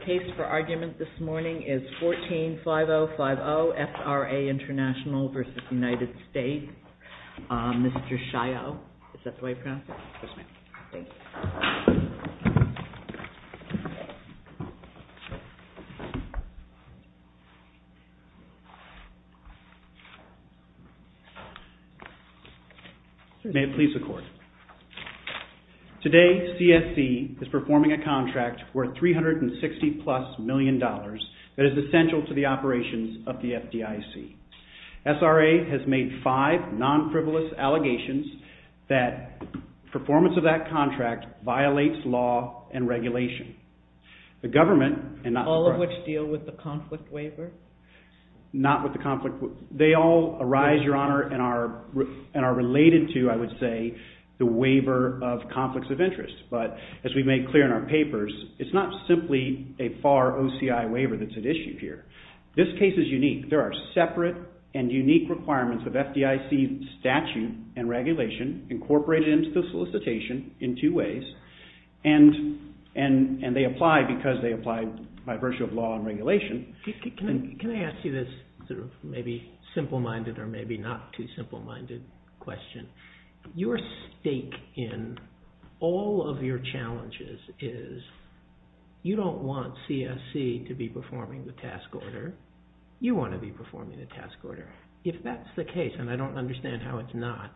The case for argument this morning is 14-5050, SRA International v. United States, Mr. Shio. Is that the way you pronounce it? Yes, ma'am. Thank you. May it please the Court. Today, CSC is performing a contract worth $360-plus million that is essential to the operations of the FDIC. SRA has made five non-frivolous allegations that performance of that contract violates law and regulation. All of which deal with the conflict waiver? Not with the conflict waiver. They all arise, Your Honor, and are related to, I would say, the waiver of conflicts of interest. But, as we've made clear in our papers, it's not simply a FAR OCI waiver that's been issued here. This case is unique. There are separate and unique requirements of FDIC statute and regulation incorporated into the solicitation in two ways. And they apply because they apply by virtue of law and regulation. Can I ask you this sort of maybe simple-minded or maybe not too simple-minded question? Your stake in all of your challenges is you don't want CSC to be performing the task order. You want to be performing the task order. If that's the case, and I don't understand how it's not,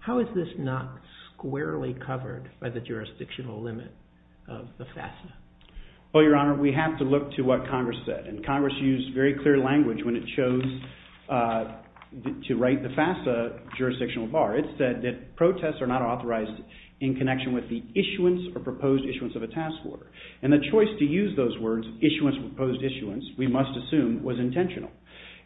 how is this not squarely covered by the jurisdictional limit of the FAFSA? Well, Your Honor, we have to look to what Congress said. And Congress used very clear language when it chose to write the FAFSA jurisdictional bar. It said that protests are not authorized in connection with the issuance or proposed issuance of a task order. And the choice to use those words, issuance or proposed issuance, we must assume was intentional.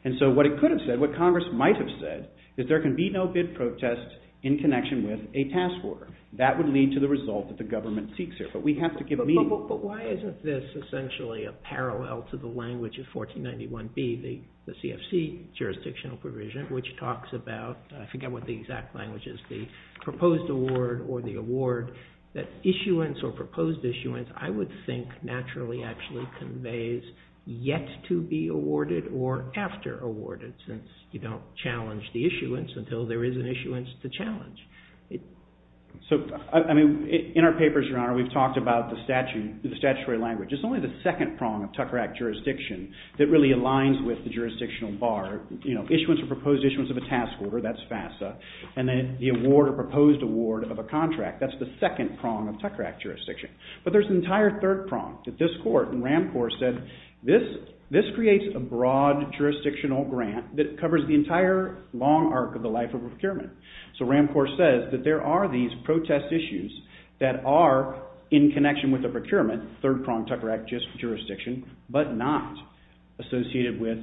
And so what it could have said, what Congress might have said, is there can be no bid protest in connection with a task order. That would lead to the result that the government seeks here. But we have to give meaning. But why isn't this essentially a parallel to the language of 1491B, the CFC jurisdictional provision, which talks about, I forget what the exact language is, the proposed award or the award, that issuance or proposed issuance I would think naturally actually conveys yet to be awarded or after awarded, since you don't challenge the issuance until there is an issuance to challenge. So, I mean, in our papers, Your Honor, we've talked about the statutory language. It's only the second prong of Tucker Act jurisdiction that really aligns with the jurisdictional bar. You know, issuance or proposed issuance of a task order, that's FASA, and then the award or proposed award of a contract, that's the second prong of Tucker Act jurisdiction. But there's an entire third prong that this Court and Ram Corps said, this creates a broad jurisdictional grant that covers the entire long arc of the life of a procurement. So Ram Corps says that there are these protest issues that are in connection with a procurement, third prong of Tucker Act jurisdiction, but not associated with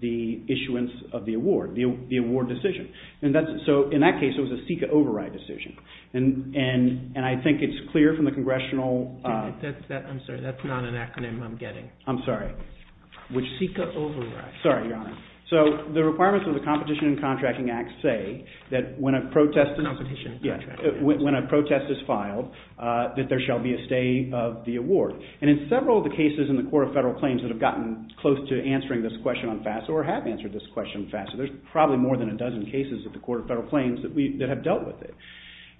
the issuance of the award, the award decision. So in that case, it was a CICA override decision. And I think it's clear from the congressional… I'm sorry, that's not an acronym I'm getting. I'm sorry. Which CICA override. Sorry, Your Honor. So the requirements of the Competition and Contracting Act say that when a protest… Competition and Contracting Act. When a protest is filed, that there shall be a stay of the award. And in several of the cases in the Court of Federal Claims that have gotten close to answering this question on FASA or have answered this question on FASA, there's probably more than a dozen cases at the Court of Federal Claims that have dealt with it.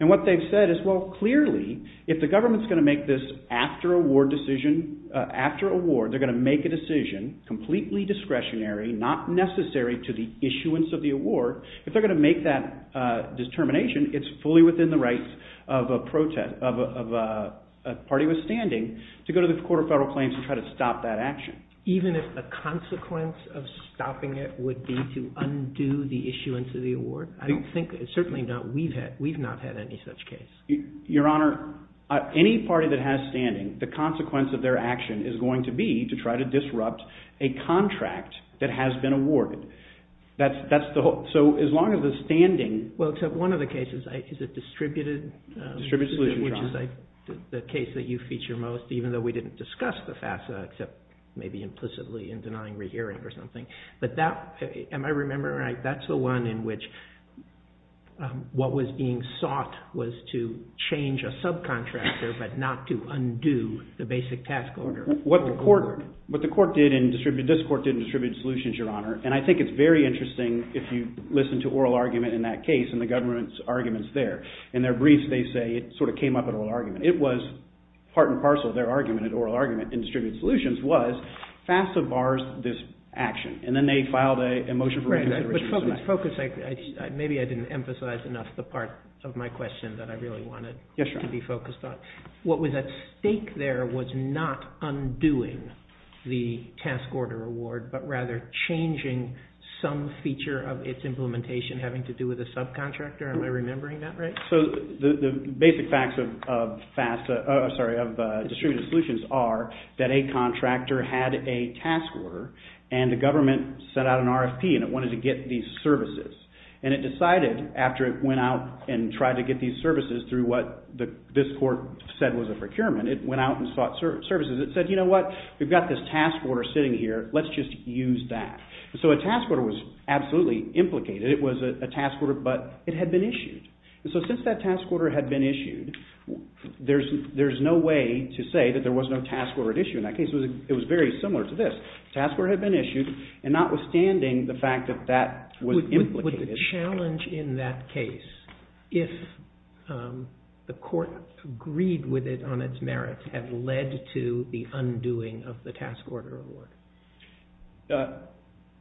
And what they've said is, well, clearly, if the government's going to make this after award decision, after award, they're going to make a decision, completely discretionary, not necessary to the issuance of the award. If they're going to make that determination, it's fully within the rights of a party with standing to go to the Court of Federal Claims and try to stop that action. Even if the consequence of stopping it would be to undo the issuance of the award? I don't think… Certainly not. We've not had any such case. Your Honor, any party that has standing, the consequence of their action is going to be to try to disrupt a contract that has been awarded. That's the whole… So as long as the standing… Well, except one of the cases is a distributed… Distributed solution trial. …which is the case that you feature most, even though we didn't discuss the FASA, except maybe implicitly in denying rehearing or something. But that… Am I remembering right? That's the one in which what was being sought was to change a subcontractor but not to undo the basic task order. What the court did in distributed… This court did in distributed solutions, Your Honor, and I think it's very interesting if you listen to oral argument in that case and the government's arguments there. In their briefs, they say it sort of came up in oral argument. It was part and parcel of their argument in oral argument in distributed solutions was FASA bars this action. And then they filed a motion for… But focus… Maybe I didn't emphasize enough the part of my question that I really wanted to be focused on. Yes, Your Honor. What was at stake there was not undoing the task order award but rather changing some feature of its implementation having to do with a subcontractor. Am I remembering that right? So the basic facts of distributed solutions are that a contractor had a task order and the government sent out an RFP and it wanted to get these services. And it decided after it went out and tried to get these services through what this court said was a procurement. It went out and sought services. It said, you know what, we've got this task order sitting here. Let's just use that. So a task order was absolutely implicated. It was a task order but it had been issued. So since that task order had been issued, there's no way to say that there was no task order at issue. In that case, it was very similar to this. Task order had been issued and notwithstanding the fact that that was implicated… Would the challenge in that case, if the court agreed with it on its merits, have led to the undoing of the task order award?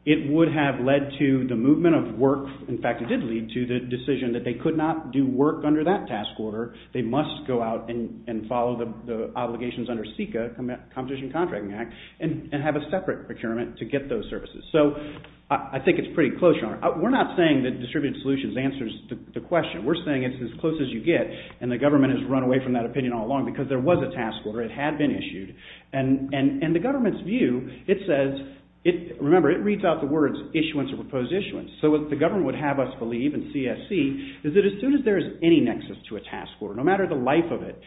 It would have led to the movement of work. In fact, it did lead to the decision that they could not do work under that task order. They must go out and follow the obligations under SECA, Competition Contracting Act, and have a separate procurement to get those services. So I think it's pretty close. We're not saying that Distributed Solutions answers the question. We're saying it's as close as you get, and the government has run away from that opinion all along because there was a task order. It had been issued. And the government's view, it says… Remember, it reads out the words, issuance or proposed issuance. So what the government would have us believe in CSC is that as soon as there is any nexus to a task order, no matter the life of it,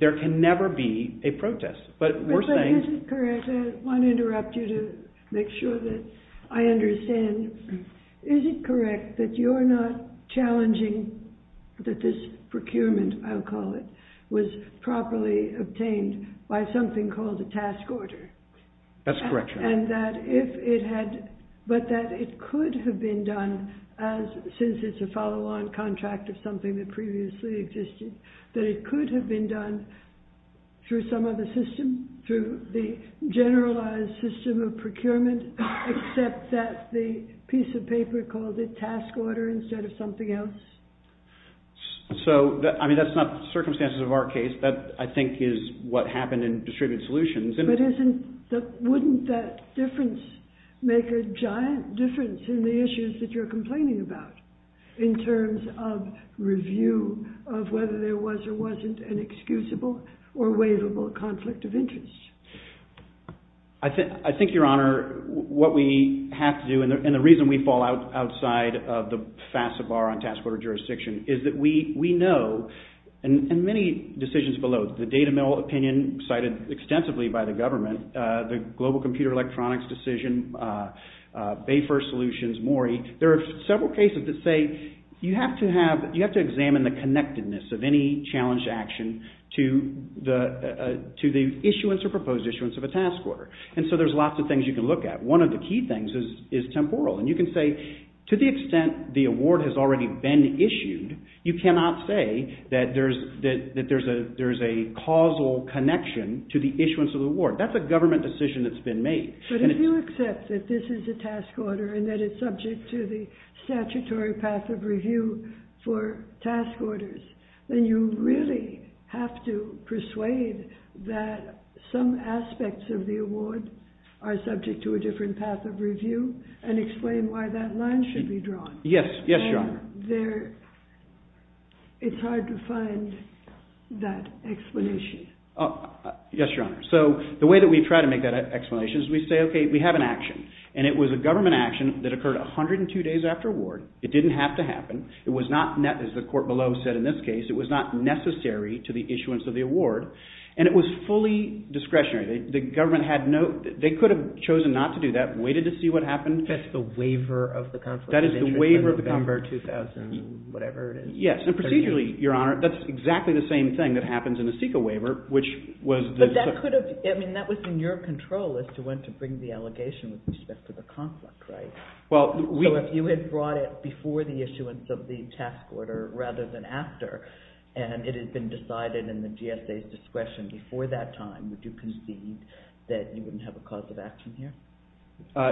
there can never be a protest. But we're saying… I want to interrupt you to make sure that I understand. Is it correct that you're not challenging that this procurement, I'll call it, was properly obtained by something called a task order? That's correct. But that it could have been done, since it's a follow-on contract of something that previously existed, that it could have been done through some other system, through the generalized system of procurement, except that the piece of paper called it task order instead of something else? I mean, that's not the circumstances of our case. That, I think, is what happened in distributed solutions. But wouldn't that difference make a giant difference in the issues that you're complaining about in terms of review of whether there was or wasn't an excusable or waivable conflict of interest? I think, Your Honor, what we have to do, and the reason we fall outside of the FAFSA bar on task order jurisdiction, is that we know, in many decisions below, the data mill opinion cited extensively by the government, the Global Computer Electronics decision, Bayfirst Solutions, Morey, there are several cases that say you have to examine the connectedness of any challenged action to the issuance or proposed issuance of a task order. And so there's lots of things you can look at. One of the key things is temporal. And you can say, to the extent the award has already been issued, you cannot say that there's a causal connection to the issuance of the award. That's a government decision that's been made. But if you accept that this is a task order and that it's subject to the statutory path of review for task orders, then you really have to persuade that some aspects of the award are subject to a different path of review and explain why that line should be drawn. Yes, Your Honor. It's hard to find that explanation. Yes, Your Honor. So the way that we try to make that explanation is we say, okay, we have an action. And it was a government action that occurred 102 days after award. It didn't have to happen. It was not, as the court below said in this case, it was not necessary to the issuance of the award. And it was fully discretionary. The government had no – they could have chosen not to do that, waited to see what happened. That's the waiver of the conflict of interest in November 2000, whatever it is. Yes, and procedurally, Your Honor, that's exactly the same thing that happens in a SECA waiver, which was the – But that could have – I mean, that was in your control as to when to bring the allegation with respect to the conflict, right? So if you had brought it before the issuance of the task order rather than after and it had been decided in the GSA's discretion before that time, would you concede that you wouldn't have a cause of action here?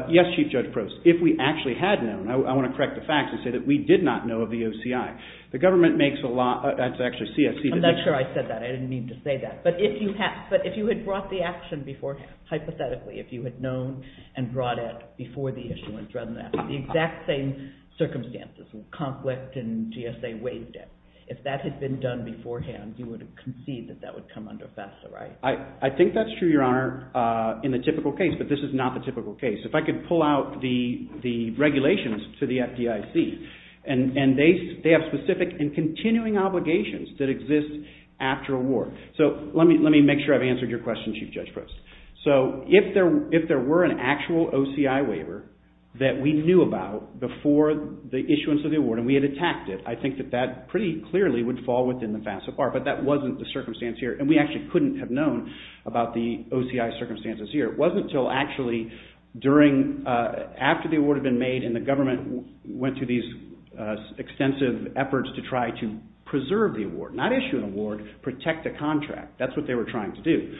Yes, Chief Judge Prost. If we actually had known, I want to correct the facts and say that we did not know of the OCI. The government makes a lot – that's actually CSC. I'm not sure I said that. I didn't mean to say that. But if you had brought the action before, hypothetically, if you had known and brought it before the issuance rather than after, the exact same circumstances, conflict and GSA waived it, if that had been done beforehand, you would concede that that would come under FASTA, right? I think that's true, Your Honor, in the typical case, but this is not the typical case. If I could pull out the regulations to the FDIC, and they have specific and continuing obligations that exist after award. So let me make sure I've answered your question, Chief Judge Prost. So if there were an actual OCI waiver that we knew about before the issuance of the award and we had attacked it, I think that that pretty clearly would fall within the FASTA part, but that wasn't the circumstance here and we actually couldn't have known about the OCI circumstances here. It wasn't until actually during – after the award had been made and the government went to these extensive efforts to try to preserve the award, not issue an award, protect the contract. That's what they were trying to do.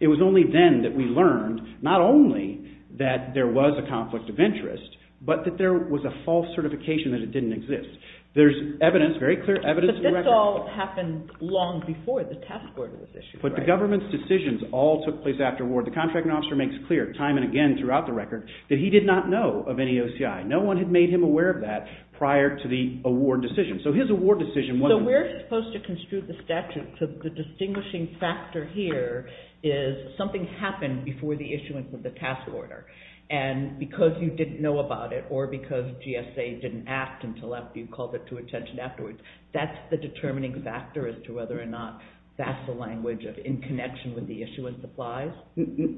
It was only then that we learned not only that there was a conflict of interest, but that there was a false certification that it didn't exist. There's evidence, very clear evidence. But this all happened long before the task order was issued, right? But the government's decisions all took place after award. The contracting officer makes clear time and again throughout the record that he did not know of any OCI. No one had made him aware of that prior to the award decision. So his award decision wasn't – So we're supposed to construe the statute, so the distinguishing factor here is something happened before the issuance of the task order and because you didn't know about it or because GSA didn't act until after you called it to attention afterwards, that's the determining factor as to whether or not that's the language in connection with the issuance of FASTA?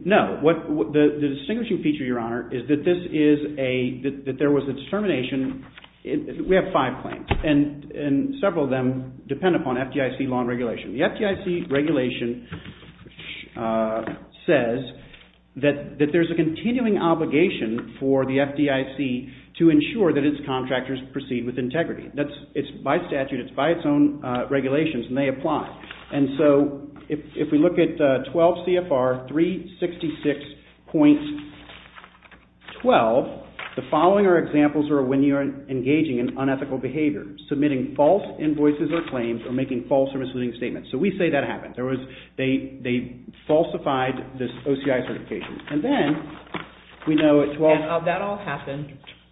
No. The distinguishing feature, Your Honor, is that this is a – that there was a determination – we have five claims and several of them depend upon FDIC law and regulation. The FDIC regulation says that there's a continuing obligation for the FDIC to ensure that its contractors proceed with integrity. It's by statute. It's by its own regulations and they apply. And so if we look at 12 CFR 366.12, the following are examples when you're engaging in unethical behavior. Submitting false invoices or claims or making false or misleading statements. So we say that happened. They falsified this OCI certification. And then we know at 12 – And that all happened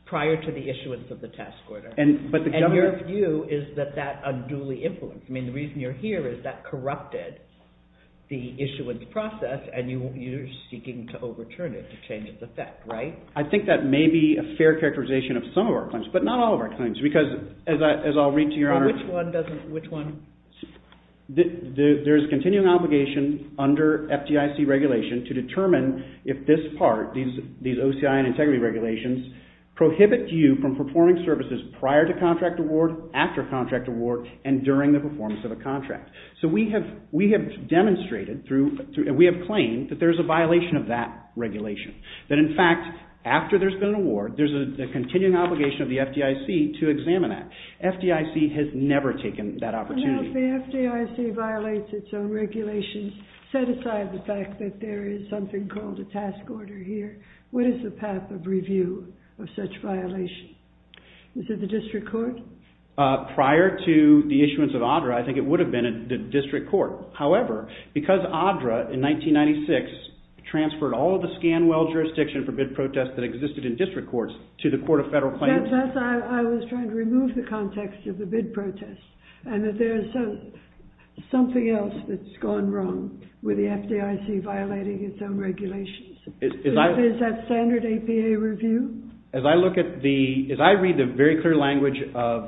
prior to the issuance of the task order. And your view is that that unduly influenced. I mean, the reason you're here is that corrupted the issuance process and you're seeking to overturn it to change its effect, right? I think that may be a fair characterization of some of our claims, but not all of our claims because, as I'll read to Your Honor – Which one doesn't – which one? There's a continuing obligation under FDIC regulation to determine if this part, these OCI and integrity regulations, prohibit you from performing services prior to contract award, after contract award, and during the performance of a contract. So we have demonstrated through – We have claimed that there's a violation of that regulation. That, in fact, after there's been an award, there's a continuing obligation of the FDIC to examine that. FDIC has never taken that opportunity. Now, if the FDIC violates its own regulations, set aside the fact that there is something called a task order here, what is the path of review of such violations? Is it the district court? Prior to the issuance of ADRA, I think it would have been the district court. However, because ADRA, in 1996, transferred all of the ScanWell jurisdiction for bid protests that existed in district courts to the Court of Federal Claims – That's – I was trying to remove the context of the bid protests and that there's something else that's gone wrong with the FDIC violating its own regulations. Is that standard APA review? As I look at the – as I read the very clear language of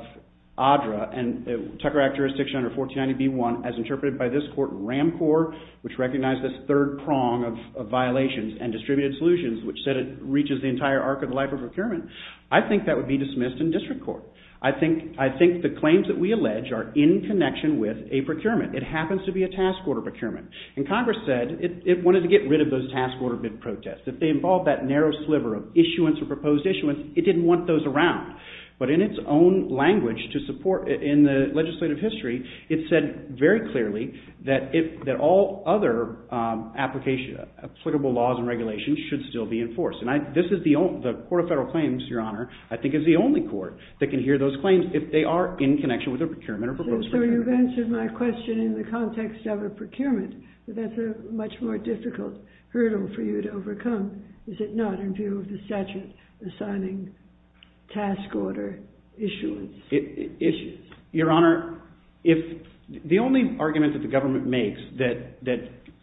ADRA and the Tucker Act jurisdiction under 1490B1, as interpreted by this court in RAMCOR, which recognized this third prong of violations and distributed solutions, which said it reaches the entire arc of the life of procurement, I think that would be dismissed in district court. I think the claims that we allege are in connection with a procurement. It happens to be a task order procurement. And Congress said it wanted to get rid of those task order bid protests. If they involved that narrow sliver of issuance or proposed issuance, it didn't want those around. But in its own language to support – in the legislative history, it said very clearly that all other application – applicable laws and regulations should still be enforced. And this is the – the Court of Federal Claims, Your Honor, I think is the only court that can hear those claims if they are in connection with a procurement or proposed procurement. So you've answered my question in the context of a procurement, but that's a much more difficult hurdle for you to overcome, is it not, in view of the statute assigning task order issuance – issues. Your Honor, if – the only argument that the government makes that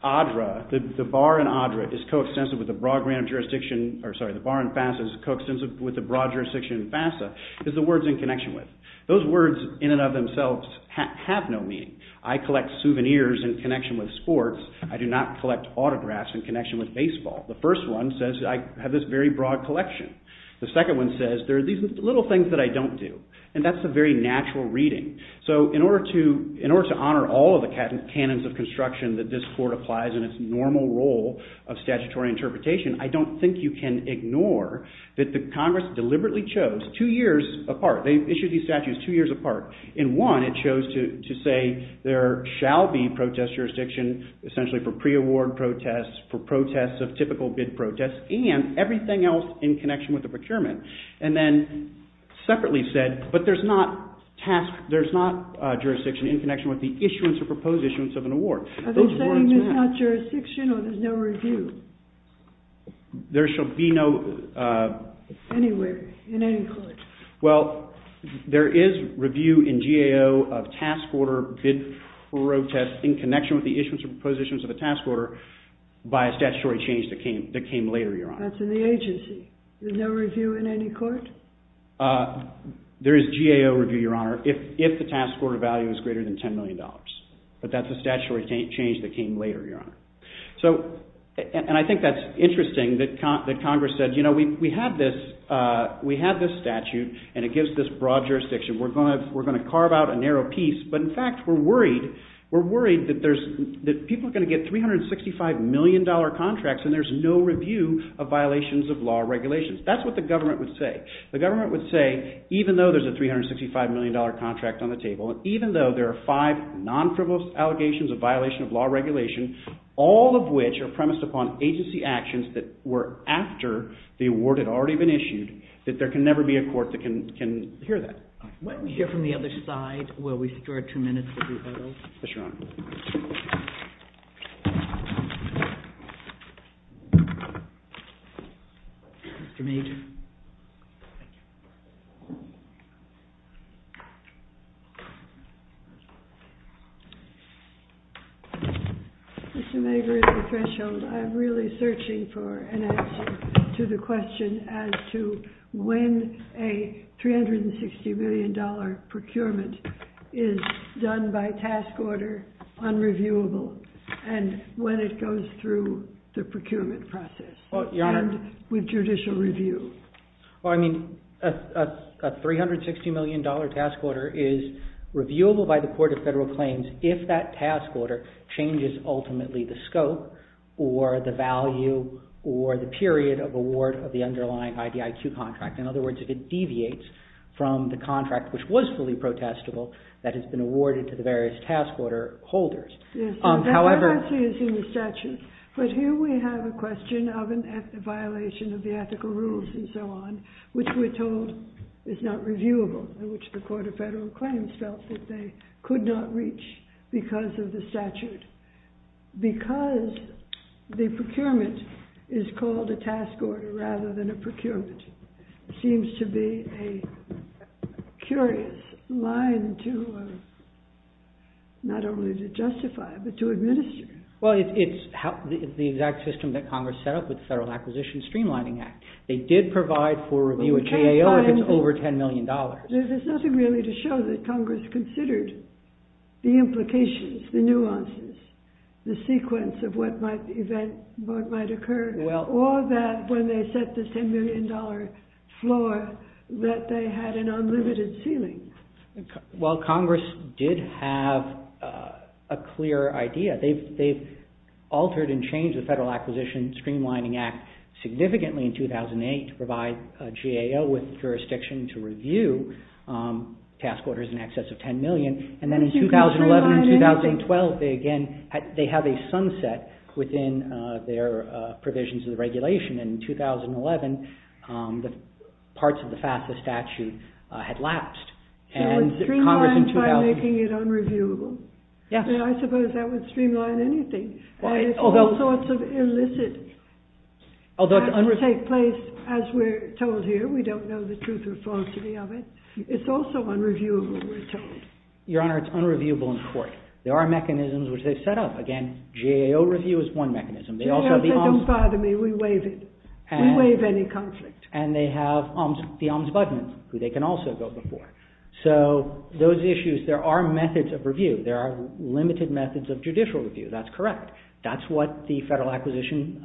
ADRA – the bar in ADRA is coextensive with the broad jurisdiction – or sorry, the bar in FASA is coextensive with the broad jurisdiction in FASA is the words in connection with. Those words in and of themselves have no meaning. I collect souvenirs in connection with sports. I do not collect autographs in connection with baseball. The first one says I have this very broad collection. The second one says there are these little things that I don't do. And that's a very natural reading. So in order to – in order to honor all of the canons of construction that this court applies in its normal role of statutory interpretation, I don't think you can ignore that the Congress deliberately chose two years apart. They issued these statutes two years apart. In one, it chose to say there shall be protest jurisdiction essentially for pre-award protests, for protests of typical bid protests, and everything else in connection with the procurement. And then separately said, but there's not task – there's not jurisdiction in connection with the issuance or proposed issuance of an award. Are they saying there's not jurisdiction or there's no review? There shall be no – Anywhere, in any court. Well, there is review in GAO of task order bid protest in connection with the issuance or proposed issuance of a task order by a statutory change that came later, Your Honor. That's in the agency. There's no review in any court? There is GAO review, Your Honor, if the task order value is greater than $10 million. But that's a statutory change that came later, Your Honor. So – and I think that's interesting that Congress said, we have this statute, and it gives this broad jurisdiction. We're going to carve out a narrow piece. But in fact, we're worried that people are going to get $365 million contracts and there's no review of violations of law or regulations. That's what the government would say. The government would say, even though there's a $365 million contract on the table, even though there are five non-frivolous allegations of violation of law or regulation, all of which are premised upon agency actions that were after the award had already been issued, that there can never be a court that can hear that. Why don't we hear from the other side? Will we secure two minutes to do that? Yes, Your Honor. Mr. Major. Mr. Major, at this threshold, I'm really searching for an answer to the question as to when a $360 million procurement is done by task order, unreviewable, and when it goes through the procurement process. And with judicial review. Well, I mean, a $360 million task order is reviewable by the Court of Federal Claims if that task order changes, ultimately, the scope or the value or the period of award of the underlying IDIQ contract. In other words, if it deviates from the contract, which was fully protestable, that has been awarded to the various task order holders. Yes. However... That actually is in the statute. But here we have a question of a violation of the ethical rules and so on, which we're told is not reviewable, which the Court of Federal Claims felt that they could not reach because of the statute. Because the procurement is called a task order rather than a procurement, it seems to be a curious line to not only to justify but to administer. Well, it's the exact system that Congress set up with the Federal Acquisition Streamlining Act. They did provide for review at GAO if it's over $10 million. There's nothing really to show that Congress considered the implications, the nuances, the sequence of what might occur, or that when they set the $10 million floor that they had an unlimited ceiling. Well, Congress did have a clear idea. They've altered and changed the Federal Acquisition Streamlining Act significantly in 2008 to provide GAO with jurisdiction to review task orders in excess of $10 million. And then in 2011 and 2012, they again have a sunset within their provisions of the regulation. And in 2011, parts of the FAFSA statute had lapsed. So it streamlines by making it unreviewable? Yes. I suppose that would streamline anything. And it's all sorts of illicit that take place, as we're told here. We don't know the truth or falsity of it. It's also unreviewable, we're told. Your Honor, it's unreviewable in court. There are mechanisms which they've set up. Again, GAO review is one mechanism. They also have the Ombudsman. GAO said, don't bother me. We waive it. We waive any conflict. And they have the Ombudsman, who they can also go before. So those issues, there are methods of review. There are limited methods of judicial review. That's correct. That's what the Federal Acquisition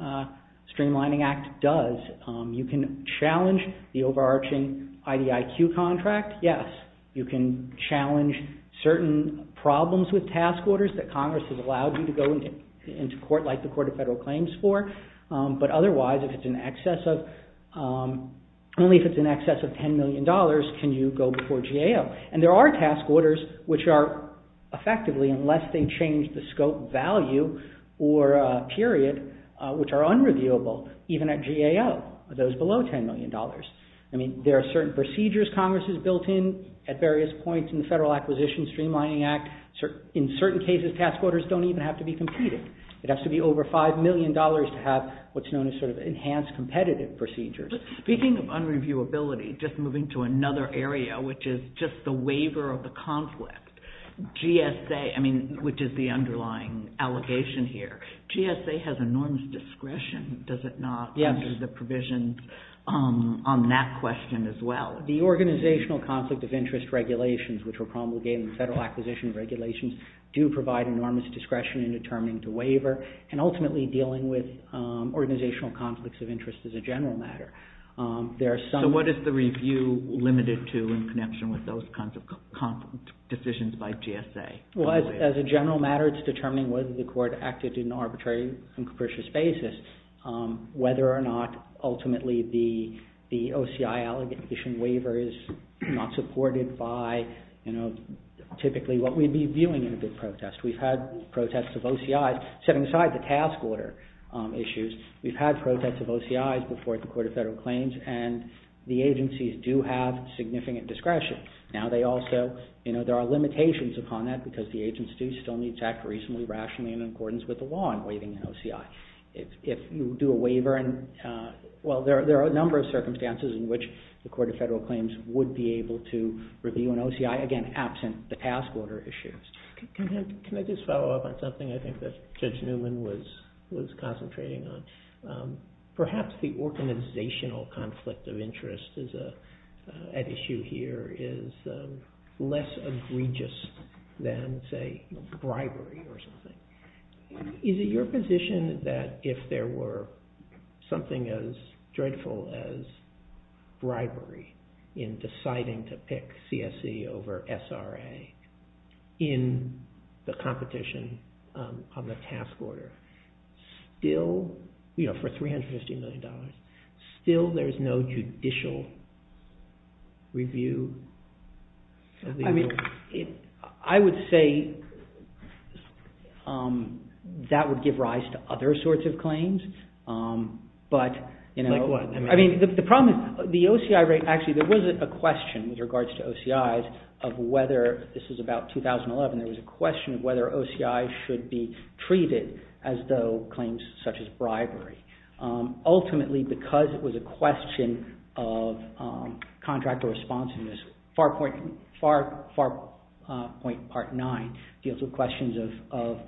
Streamlining Act does. You can challenge the overarching IDIQ contract. Yes. You can challenge certain problems with task orders that Congress has allowed you to go into court, like the Court of Federal Claims for. But otherwise, if it's in excess of $10 million, can you go before GAO? And there are task orders which are effectively, unless they change the scope value or period, which are unreviewable, even at GAO, those below $10 million. I mean, there are certain procedures Congress has built in at various points in the Federal Acquisition Streamlining Act. In certain cases, task orders don't even have to be competing. It has to be over $5 million to have what's known as sort of enhanced competitive procedures. Speaking of unreviewability, just moving to another area, which is just the waiver of the conflict, GSA, I mean, which is the underlying allegation here, GSA has enormous discretion, does it not, under the provisions on that question as well? The organizational conflict of interest regulations, which were promulgated in the Federal Acquisition Regulations, do provide enormous discretion in determining the waiver, and ultimately dealing with organizational conflicts of interest as a general matter. There are some... So what is the review limited to in connection with those kinds of conflict decisions by GSA? Well, as a general matter, it's determining whether the court acted in an arbitrary and capricious basis, whether or not ultimately the OCI allegation waiver is not supported by, you know, typically what we'd be viewing in a big protest. We've had protests of OCIs. Setting aside the task order issues, we've had protests of OCIs before the Court of Federal Claims, and the agencies do have significant discretion. Now, they also, you know, there are limitations upon that because the agency still needs to act reasonably, rationally, in accordance with the law in waiving an OCI. If you do a waiver and... Well, there are a number of circumstances in which the Court of Federal Claims would be able to review an OCI, again, absent the task order issues. Can I just follow up on something I think that Judge Newman was concentrating on? Perhaps the organizational conflict of interest at issue here is less egregious than, say, bribery or something. Is it your position that if there were something as dreadful as bribery in deciding to pick in the competition on the task order, still, you know, for $350 million, still there's no judicial review? I mean, I would say that would give rise to other sorts of claims, but, you know... Like what? I mean, the problem is the OCI rate, actually, there was a question with regards to OCIs of whether, this is about 2011, there was a question of whether OCIs should be treated as though claims such as bribery. Ultimately, because it was a question of contractor responsiveness, FAR Point Part 9 deals with questions of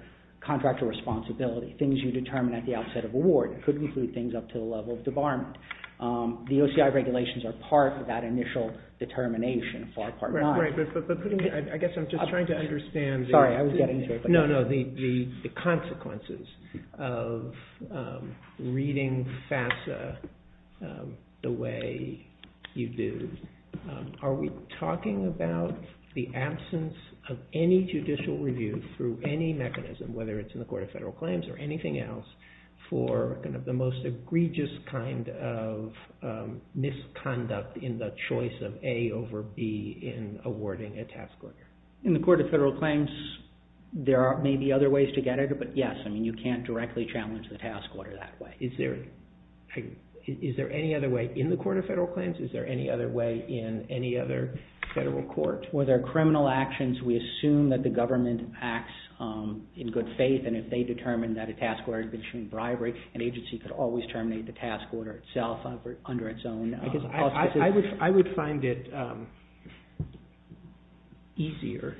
contractor responsibility, things you determine at the outset of award. It could include things up to the level of debarment. The OCI regulations are part of that initial determination, FAR Part 9. I guess I'm just trying to understand... Sorry, I was getting to it. No, no, the consequences of reading FASA the way you do. Are we talking about the absence of any judicial review through any mechanism, whether it's in the Court of Federal Claims or anything else, for the most egregious kind of misconduct in the choice of A over B in awarding a task order? In the Court of Federal Claims, there may be other ways to get it, but yes, I mean, you can't directly challenge the task order that way. Is there any other way in the Court of Federal Claims? Is there any other way in any other federal court? Whether criminal actions, we assume that the government acts in good faith, and if they determine that a task order is between bribery, an agency could always terminate the task order itself under its own... I would find it easier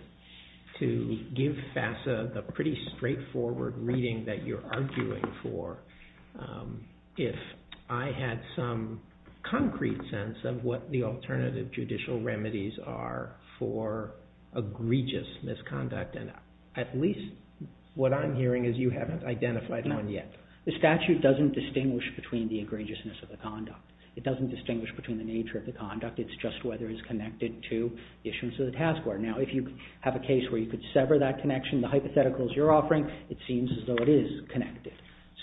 to give FASA the pretty straightforward reading that you're arguing for if I had some concrete sense of what the alternative judicial remedies are for egregious misconduct, and at least what I'm hearing is you haven't identified one yet. The statute doesn't distinguish between the egregiousness of the conduct. It doesn't distinguish between the nature of the conduct. It's just whether it's connected to issues of the task order. Now, if you have a case where you could sever that connection, the hypotheticals you're offering, it seems as though it is connected.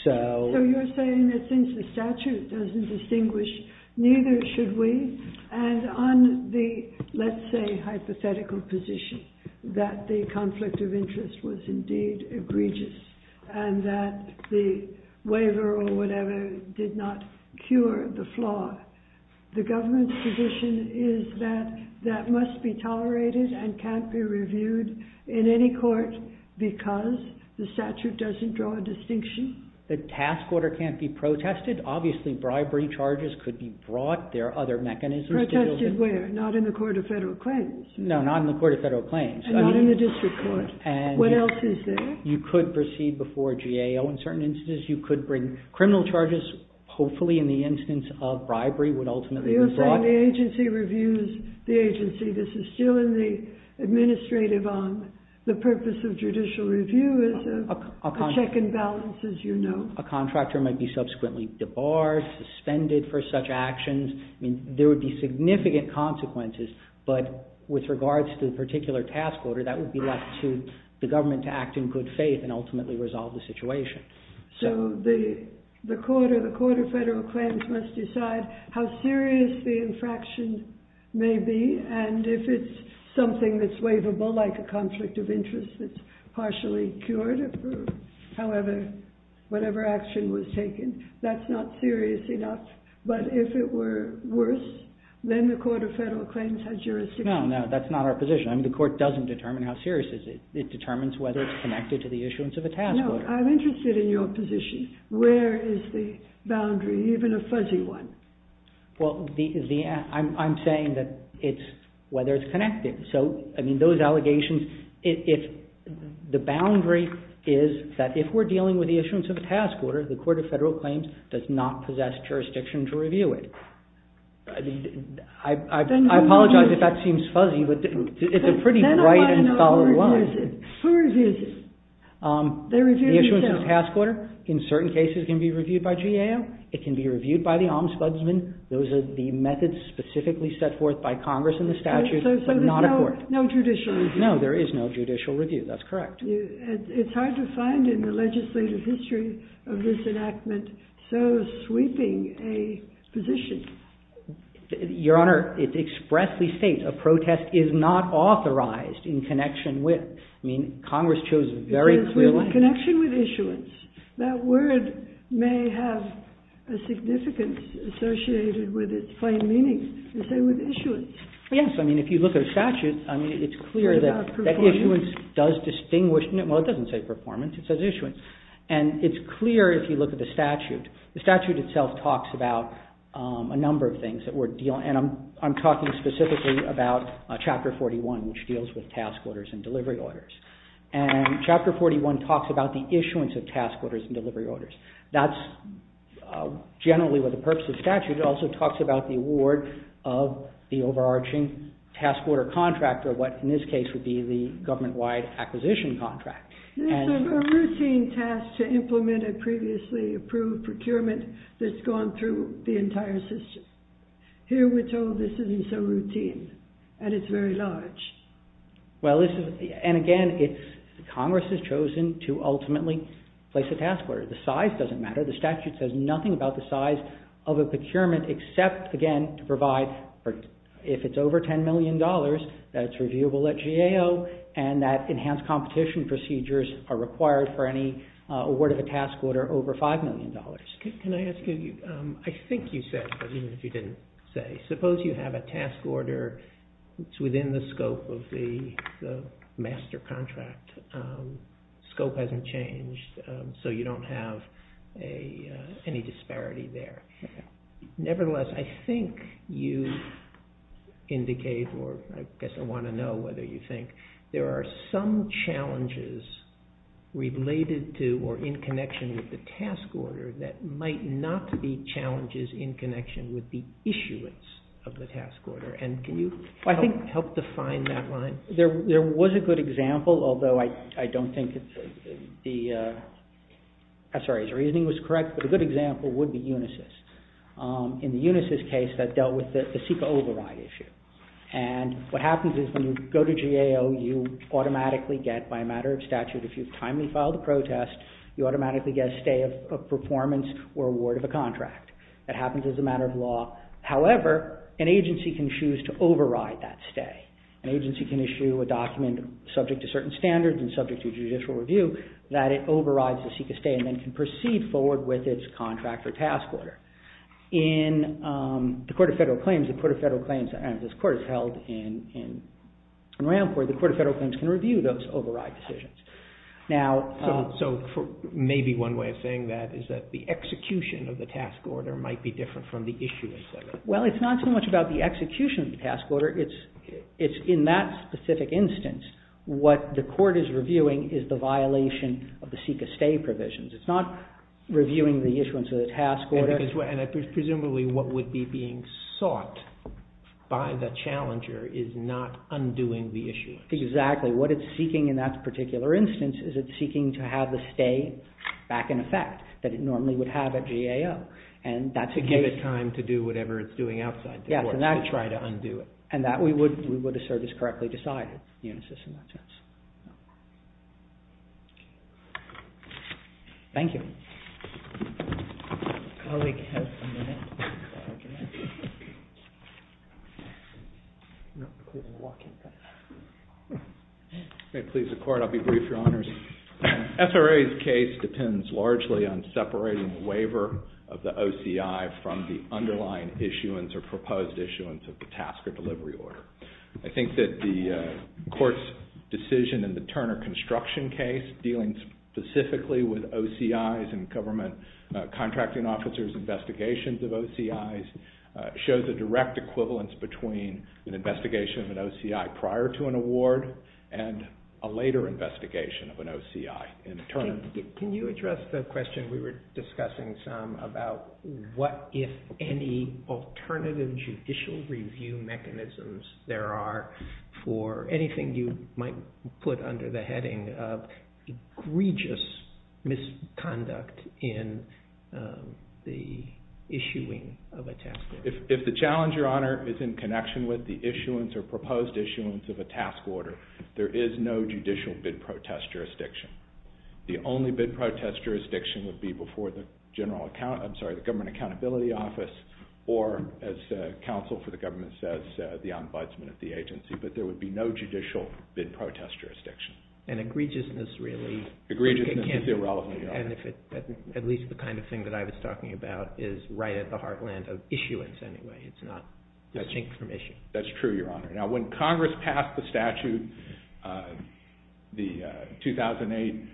So... So you're saying that since the statute doesn't distinguish, neither should we, and on the, let's say, hypothetical position that the conflict of interest was indeed egregious and that the waiver or whatever did not cure the flaw. The government's position is that that must be tolerated and can't be reviewed in any court because the statute doesn't draw a distinction? The task order can't be protested. Obviously, bribery charges could be brought. There are other mechanisms to deal with. Protested where? Not in the Court of Federal Claims. No, not in the Court of Federal Claims. And not in the district court. And... What else is there? You could proceed before GAO in certain instances. You could bring criminal charges, hopefully, in the instance of bribery would ultimately be brought. You're saying the agency reviews the agency. This is still in the administrative on the purpose of judicial review as a check and balance, as you know. A contractor might be subsequently debarred, suspended for such actions. I mean, there would be significant consequences. But with regards to the particular task order, that would be left to the government to act in good faith and ultimately resolve the situation. So the Court of Federal Claims must decide how serious the infraction may be. And if it's something that's waivable, like a conflict of interest that's partially cured, however, whatever action was taken, that's not serious enough. But if it were worse, then the Court of Federal Claims has jurisdiction. No, no. That's not our position. I mean, the Court doesn't determine how serious it is. It determines whether it's connected to the issuance of a task order. No, I'm interested in your position. Where is the boundary, even a fuzzy one? Well, I'm saying that it's whether it's connected. So, I mean, those allegations, the boundary is that if we're dealing with the issuance of a task order, the Court of Federal Claims does not possess jurisdiction to review it. I mean, I apologize if that seems fuzzy, but it's a pretty bright and solid one. Who reviews it? They review it themselves. The issuance of a task order, in certain cases, can be reviewed by GAO. It can be reviewed by the Ombudsman. Those are the methods specifically set forth by Congress in the statute, but not a court. So there's no judicial review? No, there is no judicial review. That's correct. It's hard to find in the legislative history of this enactment so sweeping a position. Your Honor, it expressly states a protest is not authorized in connection with. I mean, Congress chose a very clear line. It says with connection with issuance. That word may have a significance associated with its plain meaning. It says with issuance. Yes. I mean, if you look at a statute, I mean, it's clear that issuance does distinguish. Well, it doesn't say performance. It says issuance. And it's clear if you look at the statute. The statute itself talks about a number of things that we're dealing. And I'm talking specifically about Chapter 41, which deals with task orders and delivery orders. And Chapter 41 talks about the issuance of task orders and delivery orders. That's generally with the purpose of statute. It also talks about the award of the overarching task order contractor, what in this case would be the government-wide acquisition contract. This is a routine task to implement a previously approved procurement that's gone through the entire system. Here we're told this isn't so routine, and it's very large. Well, this is, and again, Congress has chosen to ultimately place a task order. The size doesn't matter. The statute says nothing about the size of a procurement except, again, to provide, if it's over $10 million, that it's reviewable at GAO, and that enhanced competition procedures are required for any award of a task order over $5 million. Can I ask you, I think you said, but even if you didn't say, suppose you have a task order that's within the scope of the master contract. Scope hasn't changed, so you don't have any disparity there. Nevertheless, I think you indicate, or I guess I want to know whether you think there are some challenges related to or in connection with the task order that might not be challenges in connection with the issuance of the task order, and can you help define that line? There was a good example, although I don't think the, I'm sorry, his reasoning was correct, but a good example would be Unisys. In the Unisys case, that dealt with the CEQA override issue, and what happens is when you go to GAO, you automatically get, by a matter of statute, if you've timely filed a protest, you automatically get a stay of performance or award of a contract. That happens as a matter of law. However, an agency can choose to override that stay. An agency can issue a document subject to certain standards and subject to judicial review that it overrides the CEQA stay and then can proceed forward with its contract or task order. In the Court of Federal Claims, the Court of Federal Claims, and this Court is held in Ramport, the Court of Federal Claims can review those override decisions. So maybe one way of saying that is that the execution of the task order might be different from the issuance of it. Well, it's not so much about the execution of the task order. It's in that specific instance. What the Court is reviewing is the violation of the CEQA stay provisions. It's not reviewing the issuance of the task order. And presumably what would be being sought by the challenger is not undoing the issuance. Exactly. What it's seeking in that particular instance is it's seeking to have the stay back in effect that it normally would have at GAO. To give it time to do whatever it's doing outside the Court to try to undo it. And that we would assert is correctly decided. Unisys in that sense. Thank you. May it please the Court. I'll be brief, Your Honors. SRA's case depends largely on separating the waiver of the OCI from the underlying issuance or proposed issuance of the task or delivery order. I think that the Court's decision in the Turner Construction case, dealing specifically with OCI's and government contracting officers' investigations of OCI's, shows a direct equivalence between an investigation of an OCI prior to an award and a later investigation of an OCI in turn. Can you address the question we were discussing, Sam, about what, if any, alternative judicial review mechanisms there are for anything you might put under the heading of egregious misconduct in the issuing of a task order? If the challenge, Your Honor, is in connection with the issuance or proposed issuance of a task order, there is no judicial bid protest jurisdiction. The only bid protest jurisdiction would be before the Government Accountability Office or, as counsel for the government says, the ombudsman at the agency. But there would be no judicial bid protest jurisdiction. And egregiousness, really? Egregiousness is irrelevant, Your Honor. At least the kind of thing that I was talking about is right at the heartland of issuance anyway. It's not distinct from issue. That's true, Your Honor. Now, when Congress passed the statute, the 2008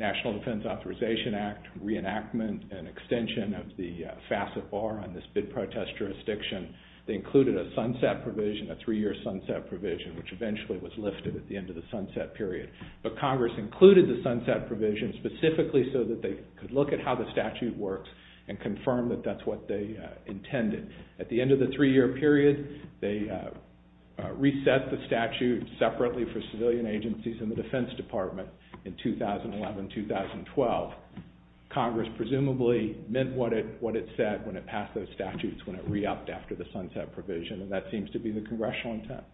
National Defense Authorization Act, reenactment and extension of the facet bar on this bid protest jurisdiction, they included a sunset provision, a three-year sunset provision, which eventually was lifted at the end of the sunset period. But Congress included the sunset provision specifically so that they could look at how the statute works and confirm that that's what they intended. At the end of the three-year period, they reset the statute separately for civilian agencies in the Defense Department in 2011-2012. Congress presumably meant what it said when it passed those statutes, when it re-upped after the sunset provision. And that seems to be the congressional intent.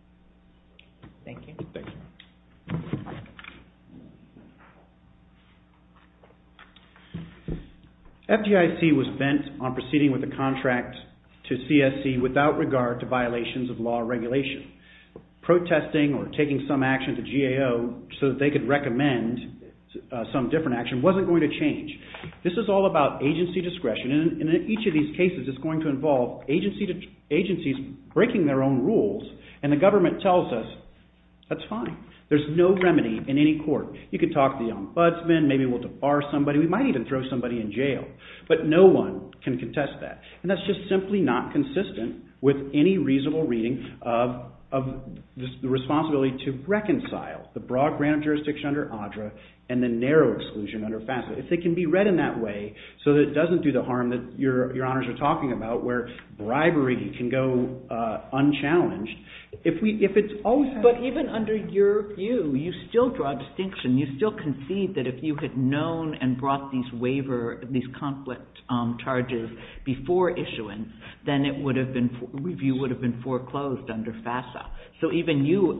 Thank you. Thank you. FDIC was bent on proceeding with the contract to CSC without regard to violations of law regulation. Protesting or taking some action to GAO so that they could recommend some different action wasn't going to change. This is all about agency discretion. And in each of these cases, it's going to involve agencies breaking their own rules. And the government tells us that's fine. There's no remedy in any court. You could talk to the ombudsman. Maybe we'll debar somebody. We might even throw somebody in jail. But no one can contest that. And that's just simply not consistent with any reasonable reading of the responsibility to reconcile the broad grant of jurisdiction under ADRA and the narrow exclusion under FASFA. If it can be read in that way so that it doesn't do the harm that your honors are talking about, where bribery can go unchallenged. But even under your view, you still draw a distinction. You still concede that if you had known and brought these waiver, these conflict charges before issuance, then it would have been, review would have been foreclosed under FASFA. So even you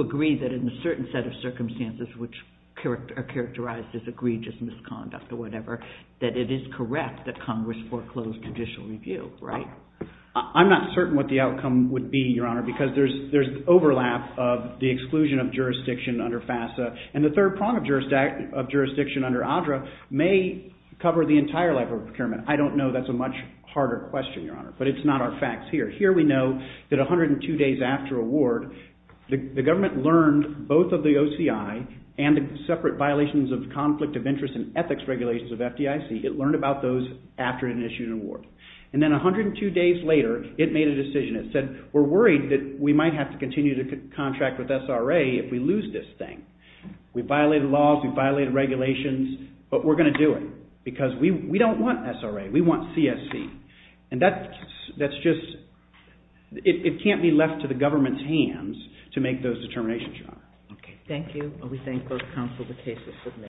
agree that in a certain set of circumstances which are characterized as egregious misconduct or whatever, that it is correct that Congress foreclosed judicial review, right? I'm not certain what the outcome would be, your honor, because there's overlap of the exclusion of jurisdiction under FASFA. And the third prong of jurisdiction under ADRA may cover the entire level of procurement. I don't know. That's a much harder question, your honor. But it's not our facts here. Here we know that 102 days after award, the government learned both of the OCI and the separate violations of conflict of interest and ethics regulations of FDIC. It learned about those after it issued an award. And then 102 days later, it made a decision. It said, we're worried that we might have to continue to contract with SRA if we lose this thing. We violated laws. We violated regulations. But we're going to do it because we don't want SRA. We want CSC. And that's just, it can't be left to the government's hands to make those determinations, your honor. Okay. Thank you. And we thank both counsel for cases submitted.